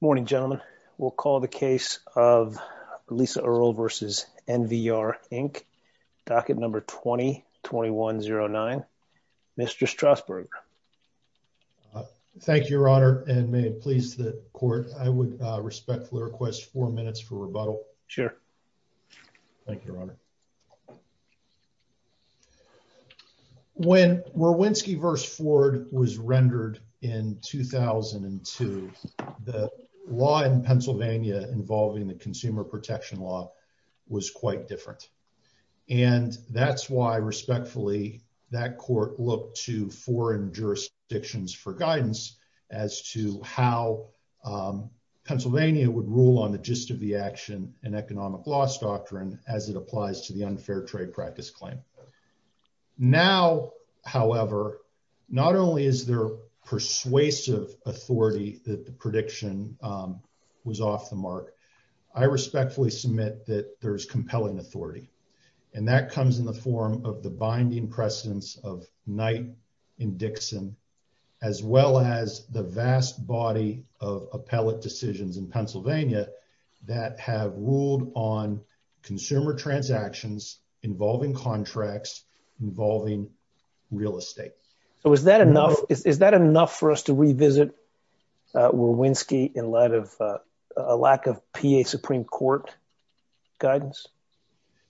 Morning, gentlemen, we'll call the case of Lisa Earl versus NVR Inc. Docket number 2020109. Mr. Strasburg. Thank you, Your Honor. And may it please the court, I would respectfully request four minutes for rebuttal. Sure. Thank you, Your Honor. When we're Winski versus Ford was rendered in 2002, the law in Pennsylvania involving the consumer protection law was quite different. And that's why respectfully, that court look to foreign jurisdictions for guidance as to how Pennsylvania would rule on the gist of the action and economic loss doctrine as it applies to the unfair trade law. Trade practice claim. Now, however, not only is there persuasive authority that the prediction was off the mark, I respectfully submit that there's compelling authority, and that comes in the form of the binding precedence of night in Dixon, as well as the vast body of appellate decisions in Pennsylvania that have ruled on consumer transactions involving contracts involving real estate. So is that enough? Is that enough for us to revisit? We're Winski in light of a lack of PA Supreme Court guidance?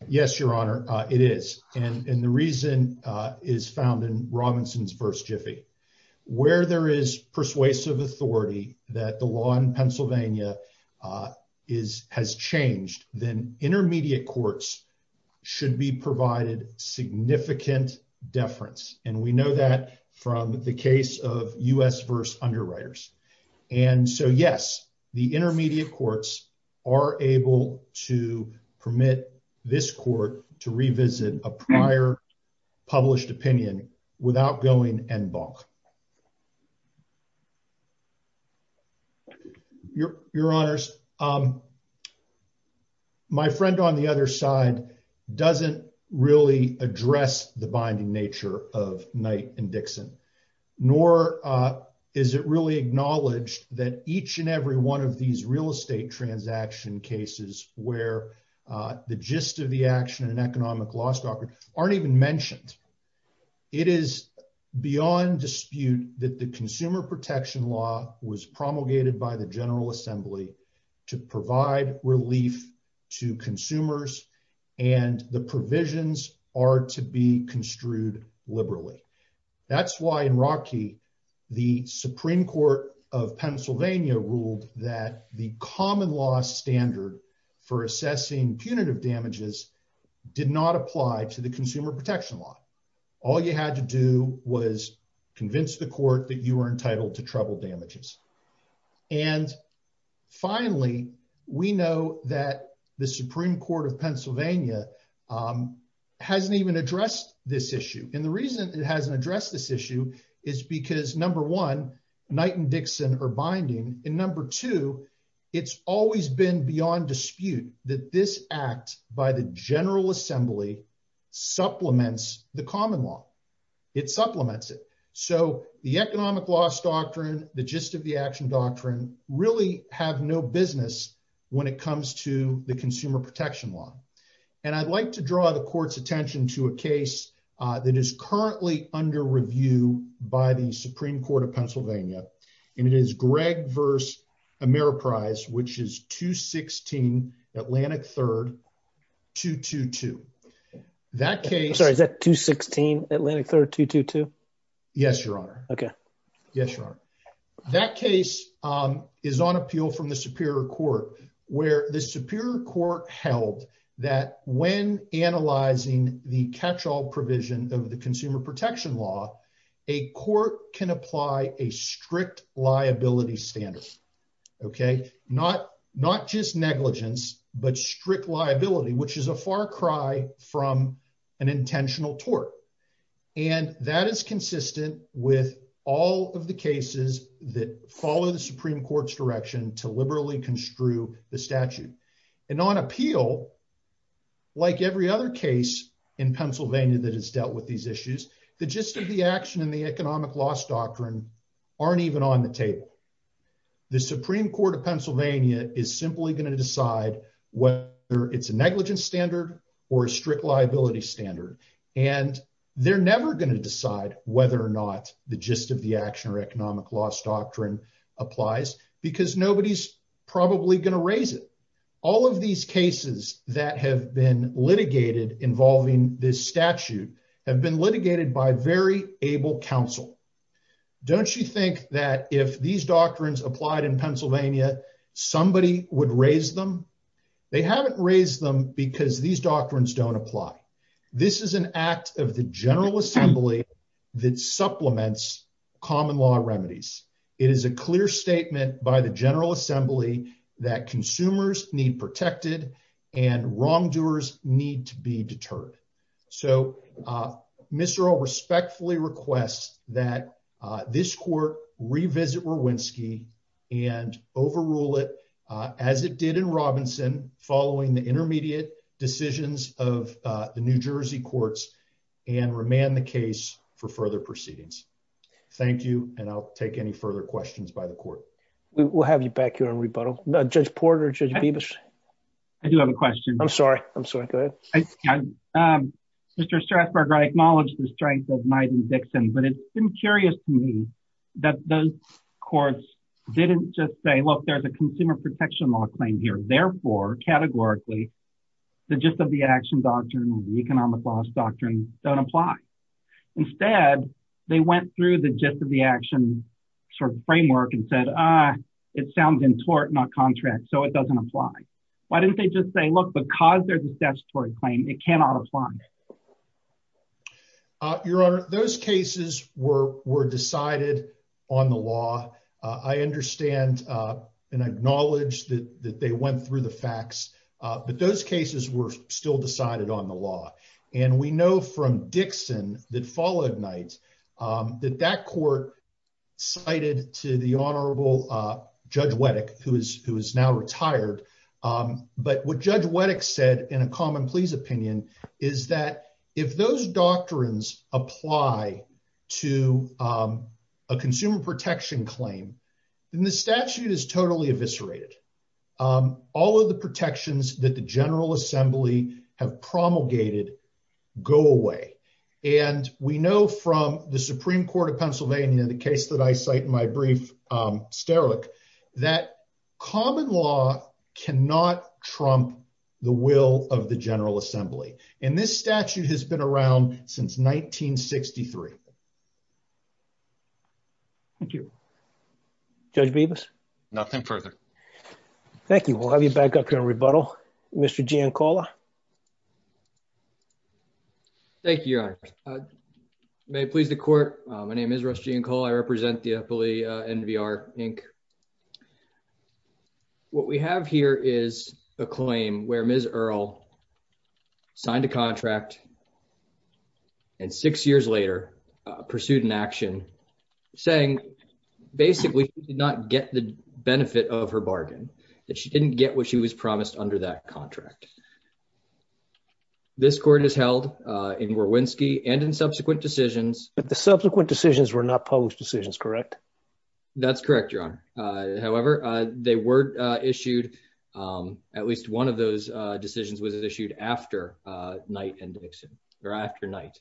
Yes, Your Honor, it is. And the reason is found in Robinson's verse Jiffy, where there is persuasive authority that the law in Pennsylvania is has changed, then intermediate courts should be provided significant deference. And we know that from the case of us verse underwriters. And so yes, the intermediate courts are able to permit this court to revisit a prior published opinion without going and balk. Your, Your Honors. My friend on the other side doesn't really address the binding nature of night and Dixon, nor is it really acknowledged that each and every one of these real estate transaction cases where the gist of the action and economic loss doctrine aren't even mentioned. It is beyond dispute that the consumer protection law was promulgated by the General Assembly to provide relief to consumers and the provisions are to be construed liberally. That's why in Rocky, the Supreme Court of Pennsylvania ruled that the common law standard for assessing punitive damages did not apply to the consumer protection law. All you had to do was convince the court that you were entitled to trouble damages. And finally, we know that the Supreme Court of Pennsylvania Hasn't even addressed this issue. And the reason it hasn't addressed this issue is because number one night and Dixon are binding and number two, it's always been beyond dispute that this act by the General Assembly supplements, the common law. It supplements it. So the economic loss doctrine, the gist of the action doctrine really have no business when it comes to the consumer protection law. And I'd like to draw the court's attention to a case that is currently under review by the Supreme Court of Pennsylvania, and it is Greg verse Ameriprise which is 216 Atlantic third to to to that case. Sorry, is that 216 Atlantic 3222 Yes, Your Honor. Okay. Yes, Your Honor. That case is on appeal from the Superior Court where the Superior Court held that when analyzing the catch all provision of the consumer protection law. A court can apply a strict liability standards. Okay, not, not just negligence, but strict liability, which is a far cry from an intentional tort. And that is consistent with all of the cases that follow the Supreme Court's direction to liberally construe the statute and on appeal. Like every other case in Pennsylvania that has dealt with these issues, the gist of the action and the economic loss doctrine aren't even on the table. The Supreme Court of Pennsylvania is simply going to decide whether it's a negligence standard or a strict liability standard, and they're never going to decide whether or not the gist of the action or economic loss doctrine applies, because nobody's probably going to raise it. All of these cases that have been litigated involving this statute have been litigated by very able counsel. Don't you think that if these doctrines applied in Pennsylvania, somebody would raise them. They haven't raised them because these doctrines don't apply. This is an act of the General Assembly that supplements common law remedies. It is a clear statement by the General Assembly that consumers need protected and wrongdoers need to be deterred. So, Mr. O respectfully requests that this court revisit Rewinsky and overrule it as it did in Robinson following the intermediate decisions of the New Jersey courts and remand the case for further proceedings. Thank you, and I'll take any further questions by the court. We'll have you back here on rebuttal. Judge Porter, Judge Bibas. I do have a question. I'm sorry. I'm sorry. Go ahead. Mr. Strathburger, I acknowledge the strength of Knight and Dixon, but it's been curious to me that those courts didn't just say, look, there's a consumer protection law claim here. Therefore, categorically, the gist of the action doctrine and the economic loss doctrine don't apply. Instead, they went through the gist of the action framework and said, ah, it sounds in tort, not contract, so it doesn't apply. Why didn't they just say, look, because there's a statutory claim, it cannot apply. Your Honor, those cases were were decided on the law. I understand and acknowledge that they went through the facts, but those cases were still decided on the law. And we know from Dixon that followed Knight that that court cited to the honorable Judge Wettick, who is who is now retired. But what Judge Wettick said in a common pleas opinion is that if those doctrines apply to a consumer protection claim, then the statute is totally eviscerated. All of the protections that the General Assembly have promulgated go away. And we know from the Supreme Court of Pennsylvania, the case that I cite in my brief, Sterlick, that common law cannot trump the will of the General Assembly. And this statute has been around since 1963. Thank you, Judge Bevis. Nothing further. Thank you. We'll have you back up here in rebuttal. Mr. Giancola. Thank you, Your Honor. May it please the court. My name is Russ Giancola. I represent the NVR Inc. What we have here is a claim where Ms. Earle signed a contract. And six years later, pursued an action saying basically did not get the benefit of her bargain that she didn't get what she was promised under that contract. This court is held in Wierwinski and in subsequent decisions. But the subsequent decisions were not published decisions, correct? That's correct, Your Honor. However, they were issued. At least one of those decisions was issued after Knight and Dixon or after Knight.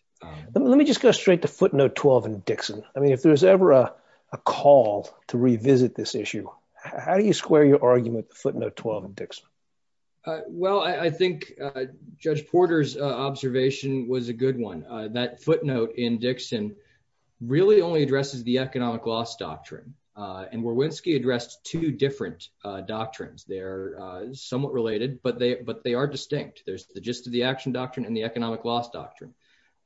Let me just go straight to footnote 12 in Dixon. I mean, if there was ever a call to revisit this issue, how do you square your argument footnote 12 in Dixon? Well, I think Judge Porter's observation was a good one. That footnote in Dixon really only addresses the economic loss doctrine. And Wierwinski addressed two different doctrines. They're somewhat related, but they are distinct. There's the gist of the action doctrine and the economic loss doctrine.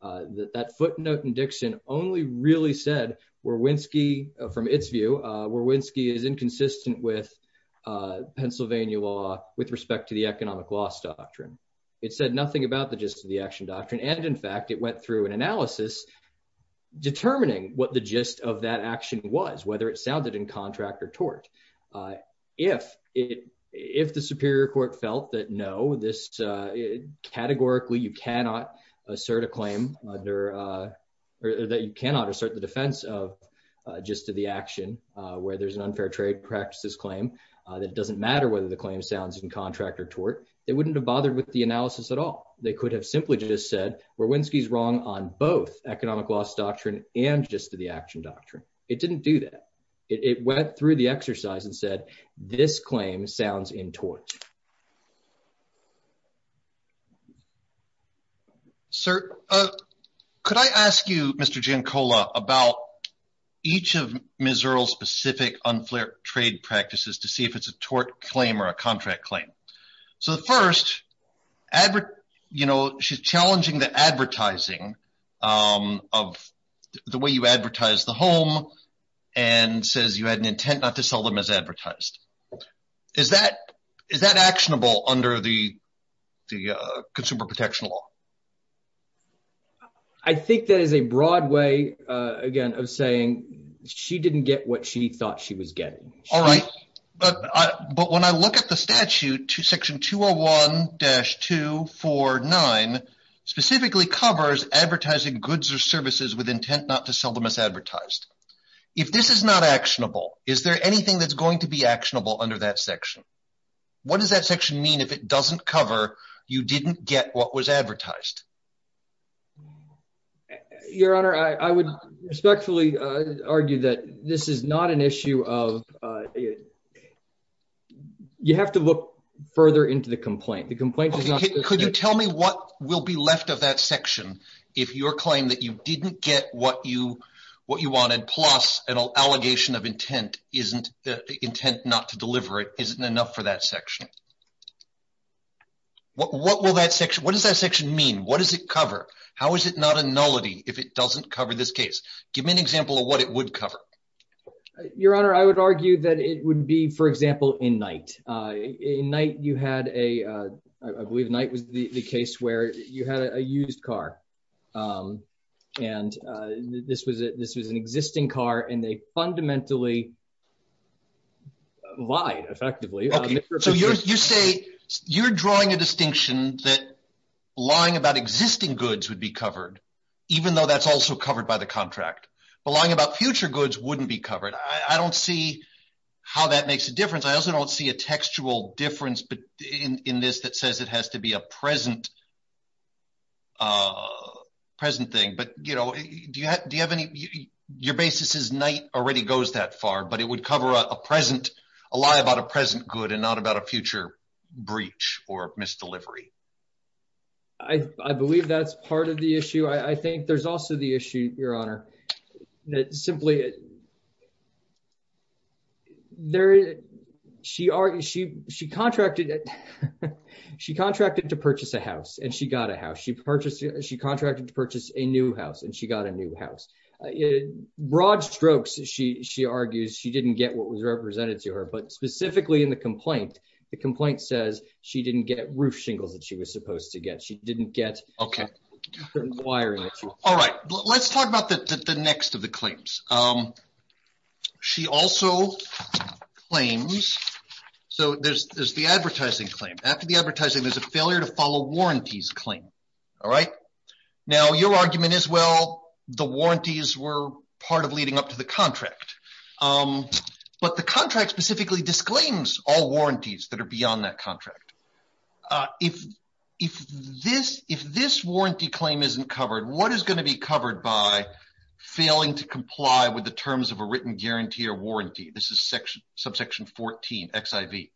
That footnote in Dixon only really said Wierwinski, from its view, Wierwinski is inconsistent with Pennsylvania law with respect to the economic loss doctrine. It said nothing about the gist of the action doctrine. And in fact, it went through an analysis determining what the gist of that action was, whether it sounded in contract or tort. If it if the Superior Court felt that, no, this categorically you cannot assert a claim under or that you cannot assert the defense of gist of the action where there's an unfair trade practices claim. That doesn't matter whether the claim sounds in contract or tort. They wouldn't have bothered with the analysis at all. They could have simply just said Wierwinski is wrong on both economic loss doctrine and gist of the action doctrine. It didn't do that. It went through the exercise and said this claim sounds in tort. Sir, could I ask you, Mr. Giancola, about each of Missouril's specific unfair trade practices to see if it's a tort claim or a contract claim? So first, you know, she's challenging the advertising of the way you advertise the home and says you had an intent not to sell them as advertised. Is that is that actionable under the consumer protection law? I think that is a broad way, again, of saying she didn't get what she thought she was getting. All right. But but when I look at the statute to Section 201-249 specifically covers advertising goods or services with intent not to sell them as advertised. If this is not actionable, is there anything that's going to be actionable under that section? What does that section mean if it doesn't cover you didn't get what was advertised? Your Honor, I would respectfully argue that this is not an issue of you have to look further into the complaint. The complaint could you tell me what will be left of that section if your claim that you didn't get what you what you wanted, plus an allegation of intent isn't the intent not to deliver it isn't enough for that section. What will that section what does that section mean? What does it cover? How is it not a nullity if it doesn't cover this case? Give me an example of what it would cover. Your Honor, I would argue that it would be, for example, in night, a night you had a I believe night was the case where you had a used car. And this was this was an existing car and they fundamentally lied effectively. So you say you're drawing a distinction that lying about existing goods would be covered, even though that's also covered by the contract. But lying about future goods wouldn't be covered. I don't see how that makes a difference. I also don't see a textual difference in this that says it has to be a present present thing. But, you know, do you have any your basis is night already goes that far, but it would cover a present a lie about a present good and not about a future breach or misdelivery. I believe that's part of the issue. I think there's also the issue, Your Honor, that simply. There she are. She she contracted it. She contracted to purchase a house and she got a house she purchased. She contracted to purchase a new house and she got a new house. Broad strokes. She argues she didn't get what was represented to her, but specifically in the complaint. The complaint says she didn't get roof shingles that she was supposed to get. She didn't get. OK. All right. Let's talk about the next of the claims. She also claims. So there's the advertising claim. After the advertising, there's a failure to follow warranties claim. All right. Now, your argument is, well, the warranties were part of leading up to the contract. But the contract specifically disclaims all warranties that are beyond that contract. If if this if this warranty claim isn't covered, what is going to be covered by failing to comply with the terms of a written guarantee or warranty? This is section subsection 14 XIV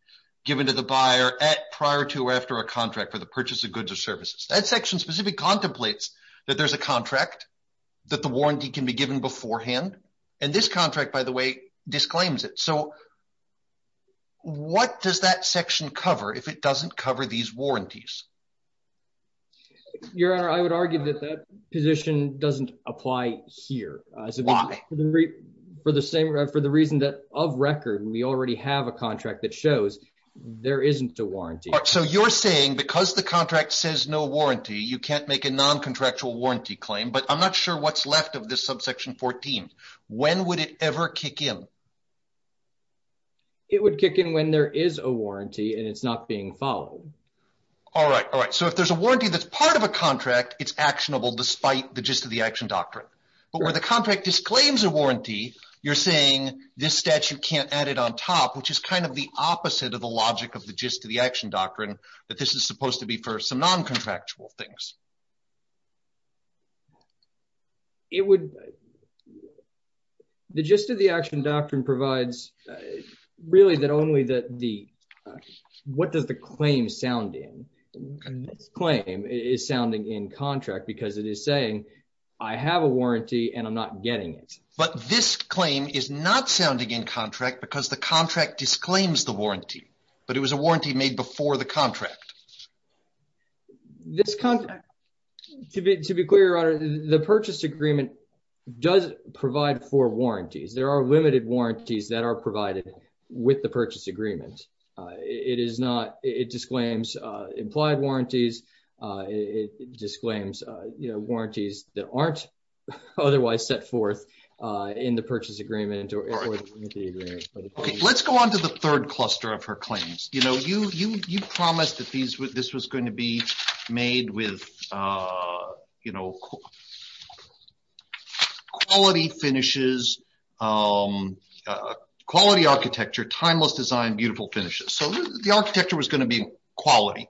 given to the buyer at prior to or after a contract for the purchase of goods or services that section specific contemplates that there's a contract that the warranty can be given beforehand. And this contract, by the way, disclaims it. So. What does that section cover if it doesn't cover these warranties? Your Honor, I would argue that that position doesn't apply here. Why? For the same. For the reason that of record, we already have a contract that shows there isn't a warranty. So you're saying because the contract says no warranty, you can't make a non contractual warranty claim. But I'm not sure what's left of this subsection 14. When would it ever kick in? It would kick in when there is a warranty and it's not being followed. All right. All right. So if there's a warranty that's part of a contract, it's actionable despite the gist of the action doctrine. But where the contract disclaims a warranty, you're saying this statute can't add it on top, which is kind of the opposite of the logic of the gist of the action doctrine, that this is supposed to be for some non contractual things. It would. The gist of the action doctrine provides really that only that the what does the claim sound in this claim is sounding in contract because it is saying I have a warranty and I'm not getting it. But this claim is not sounding in contract because the contract disclaims the warranty, but it was a warranty made before the contract. This contract to be to be clear on the purchase agreement does provide for warranties. There are limited warranties that are provided with the purchase agreement. It is not. It disclaims implied warranties. It disclaims warranties that aren't otherwise set forth in the purchase agreement. Let's go on to the third cluster of her claims, you know, you, you, you promised that these with this was going to be made with, you know, quality finishes quality architecture timeless design beautiful finishes so the architecture was going to be quality.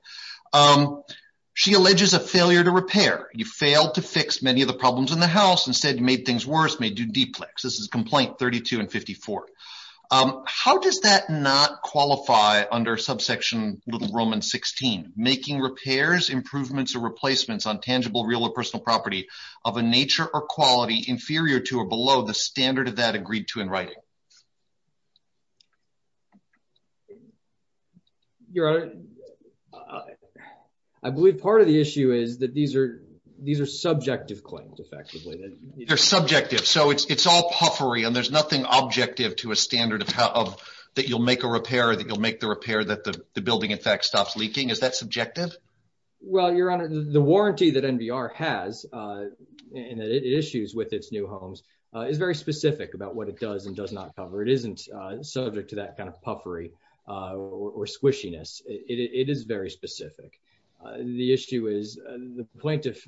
She alleges a failure to repair, you fail to fix many of the problems in the house and said made things worse may do deplex this is complaint 32 and 54. How does that not qualify under subsection little Roman 16 making repairs improvements or replacements on tangible real or personal property of a nature or quality inferior to or below the standard of that agreed to in writing. Your honor. I believe part of the issue is that these are these are subjective claims effectively that they're subjective so it's all puffery and there's nothing objective to a standard of how of that you'll make a repair that you'll make the repair that the building in fact stops leaking is that subjective. Well, your honor, the warranty that NPR has issues with its new homes is very specific about what it does and does not cover it isn't subject to that kind of puffery or squishiness, it is very specific. The issue is the plaintiff.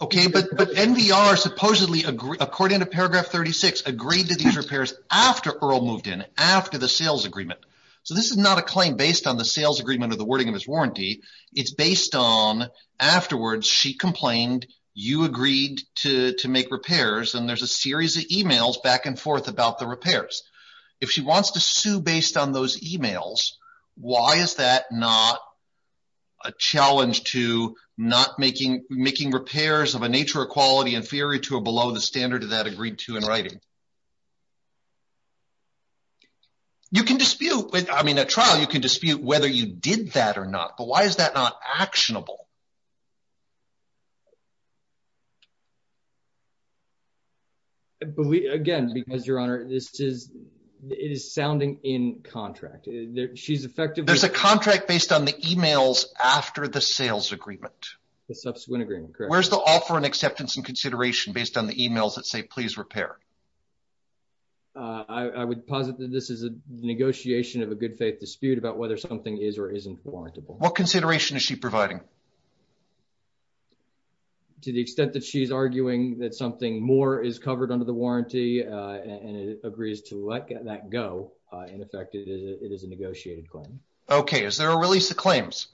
Okay, but but NPR supposedly agree according to paragraph 36 agreed to these repairs after Earl moved in after the sales agreement. So this is not a claim based on the sales agreement or the wording of his warranty. It's based on afterwards she complained, you agreed to make repairs and there's a series of emails back and forth about the repairs. If she wants to sue based on those emails. Why is that not a challenge to not making making repairs of a nature or quality inferior to or below the standard of that agreed to in writing. You can dispute with I mean a trial you can dispute whether you did that or not, but why is that not actionable. Again, because your honor, this is, it is sounding in contract, she's effective there's a contract based on the emails, after the sales agreement, the subsequent agreement, where's the offer and acceptance and consideration based on the emails that say please repair. I would posit that this is a negotiation of a good faith dispute about whether something is or isn't warranted. What consideration is she providing to the extent that she's arguing that something more is covered under the warranty, and it agrees to let that go. In effect, it is a negotiated claim. Okay, is there a release the claims.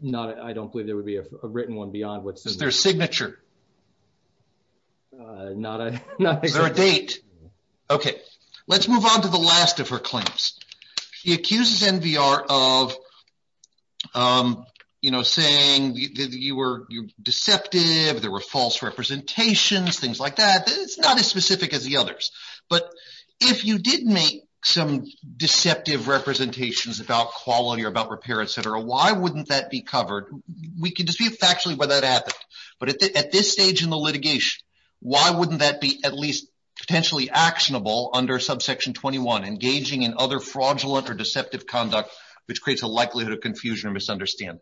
Not I don't believe there would be a written one beyond what's their signature. Not a date. Okay, let's move on to the last of her claims. He accuses NPR of, you know, saying that you were deceptive there were false representations things like that it's not as specific as the others. But if you didn't make some deceptive representations about quality or about repair etc why wouldn't that be covered, we can dispute factually whether that happened, but at this stage in the litigation. Why wouldn't that be at least potentially actionable under subsection 21 engaging in other fraudulent or deceptive conduct, which creates a likelihood of confusion or misunderstand.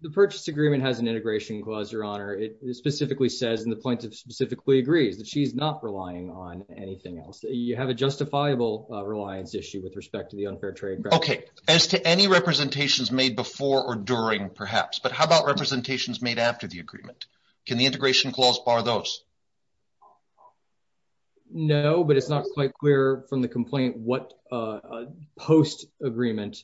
The purchase agreement has an integration clause your honor it specifically says in the point of specifically agrees that she's not relying on anything else that you have a justifiable reliance issue with respect to the unfair trade. Okay, as to any representations made before or during perhaps but how about representations made after the agreement. Can the integration clause bar those. No, but it's not quite clear from the complaint what post agreement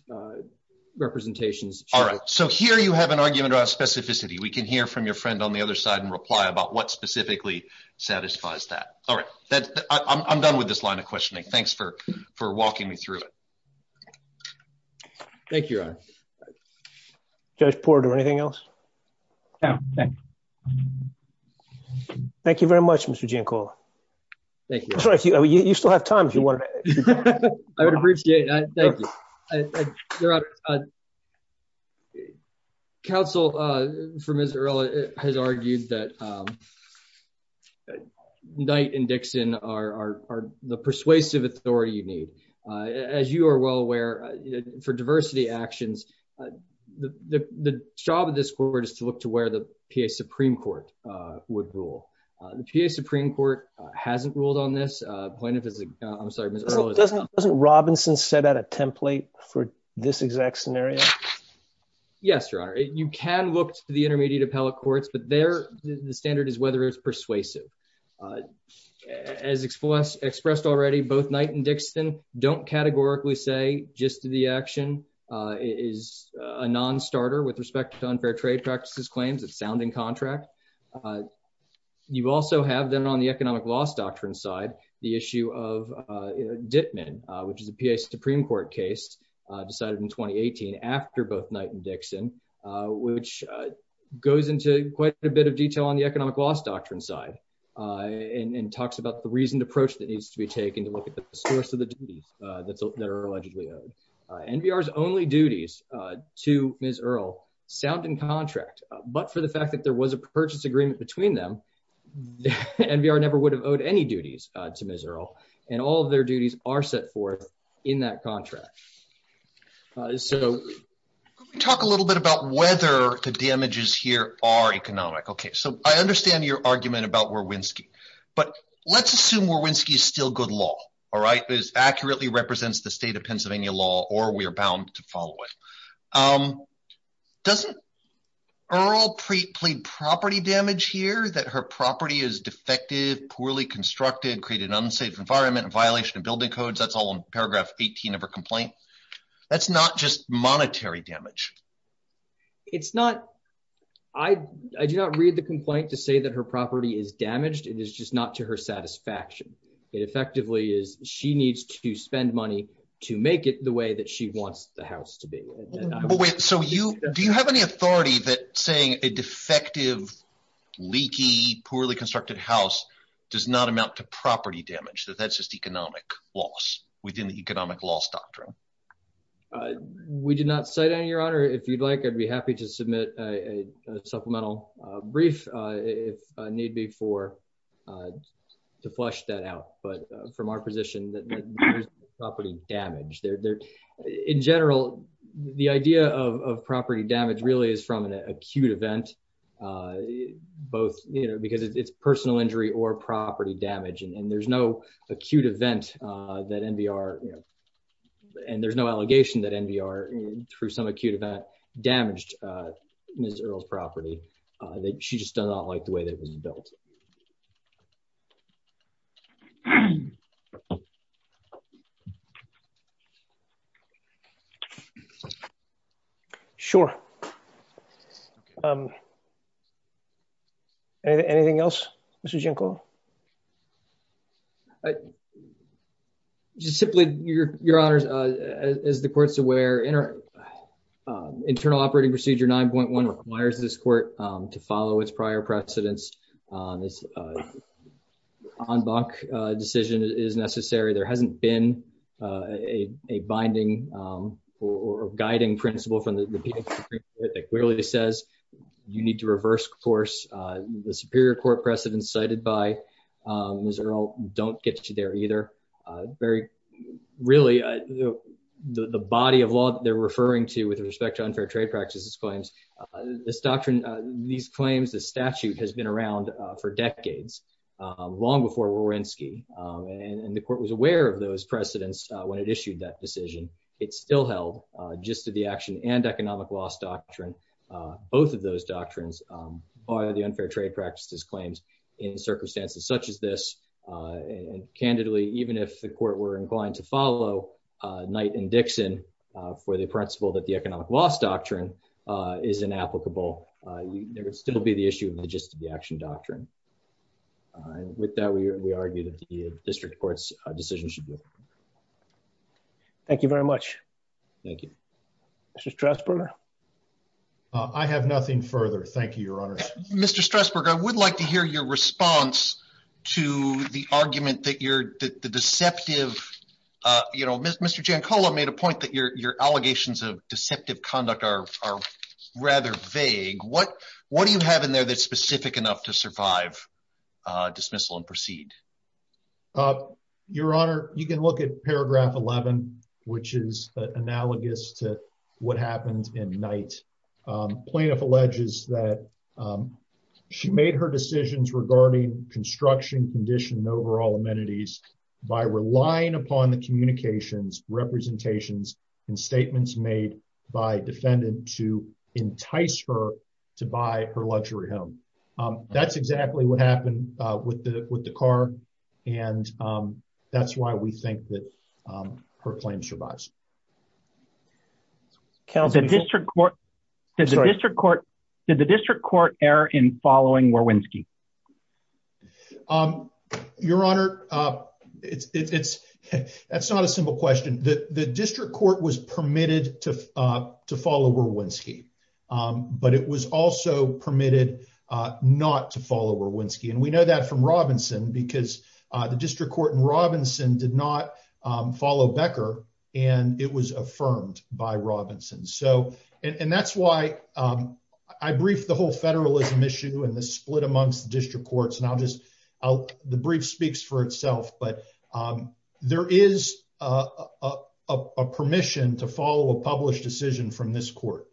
representations. All right, so here you have an argument about specificity, we can hear from your friend on the other side and reply about what specifically satisfies that. All right, that I'm done with this line of questioning. Thanks for for walking me through it. Thank you. Just Porter anything else. Thank you very much, Mr Jim call. Thank you. You still have time if you want. I would appreciate that. Council for misery has argued that night and Dixon are the persuasive authority you need. As you are well aware, for diversity actions. The job of this court is to look to where the PA Supreme Court would rule the PA Supreme Court hasn't ruled on this point if it's a, I'm sorry. Doesn't Robinson set out a template for this exact scenario. Yes, your honor, you can look to the intermediate appellate courts but they're the standard is whether it's persuasive. As expressed expressed already both night and Dixon don't categorically say just to the action is a non starter with respect to unfair trade practices claims it's sounding contract. You also have them on the economic loss doctrine side, the issue of Ditman, which is a PA Supreme Court case decided in 2018 after both night and Dixon, which goes into quite a bit of detail on the economic loss doctrine side and talks about the reason to approach that needs to be taken to look at the source of the duties that are allegedly NPR is only duties to Miss Earl sound and contract, but for the fact that there was a purchase agreement between them. And we are never would have owed any duties to miserable, and all of their duties are set forth in that contract. So, talk a little bit about whether the damages here are economic Okay, so I understand your argument about where Winski, but let's assume where Winski is still good law. All right, is accurately represents the state of Pennsylvania law, or we are bound to follow it. Um, doesn't Earl pre plead property damage here that her property is defective poorly constructed created unsafe environment violation of building codes that's all in paragraph, 18 of a complaint. That's not just monetary damage. It's not. I do not read the complaint to say that her property is damaged it is just not to her satisfaction. It effectively is, she needs to spend money to make it the way that she wants the house to be. So you do you have any authority that saying a defective leaky poorly constructed house does not amount to property damage that that's just economic loss within the economic loss doctrine. We did not say that your honor if you'd like I'd be happy to submit a supplemental brief, if need be for to flush that out, but from our position that property damage there. In general, the idea of property damage really is from an acute event. Both, you know, because it's personal injury or property damage and there's no acute event that NPR. And there's no allegation that NPR through some acute event damaged. Miss Earl's property that she just does not like the way that was built. Sure. Anything else, Mr Jinkle. Just simply, your, your honors, as the courts aware in our internal operating procedure 9.1 requires this court to follow its prior precedents on this on bunk decision is necessary there hasn't been a binding or guiding principle from the clearly says you need to reverse course, the Superior Court precedent cited by Israel, don't get you there either. Very, really, the body of law, they're referring to with respect to unfair trade practices claims. This doctrine, these claims the statute has been around for decades. Long before we're in ski, and the court was aware of those precedents, when it issued that decision. It's still held just to the action and economic loss doctrine. Both of those doctrines, or the unfair trade practices claims in circumstances such as this. And candidly, even if the court were inclined to follow night and Dixon for the principle that the economic loss doctrine is an applicable. There would still be the issue of the just the action doctrine. With that we argue that the district courts decision should be. Thank you very much. Thank you. Mr stress burner. I have nothing further Thank you, Your Honor, Mr stress burger I would like to hear your response to the argument that you're the deceptive. You know, Mr Jancola made a point that your, your allegations of deceptive conduct are rather vague what, what do you have in there that specific enough to survive dismissal and proceed. Your Honor, you can look at paragraph 11, which is analogous to what happens in night plaintiff alleges that she made her decisions regarding construction condition overall amenities by relying upon the communications representations and statements made by defendant to entice her to buy her luxury home. That's exactly what happened with the, with the car. And that's why we think that her claim survives. Cal's a district court district court to the district court error in following where when ski. Your Honor. It's, it's, that's not a simple question that the district court was permitted to to follow where when ski, but it was also permitted not to follow where when ski and we know that from Robinson because the district court and Robinson did not follow Becker, and it was the brief speaks for itself but there is a permission to follow a published decision from this court.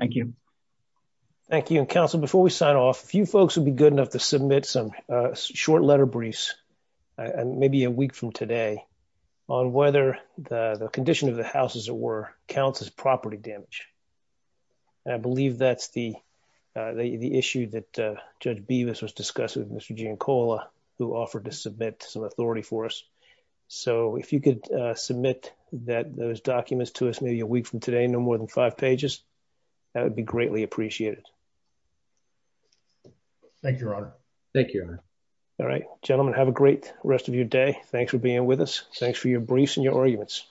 Thank you. Thank you and Council before we sign off a few folks would be good enough to submit some short letter briefs, and maybe a week from today on whether the condition of the house as it were counts as property damage. I believe that's the, the issue that judge be this was discussed with Mr gene Cola, who offered to submit some authority for us. So if you could submit that those documents to us maybe a week from today no more than five pages. That would be greatly appreciated. Thank you. Thank you. All right, gentlemen, have a great rest of your day. Thanks for being with us. Thanks for your briefs and your arguments.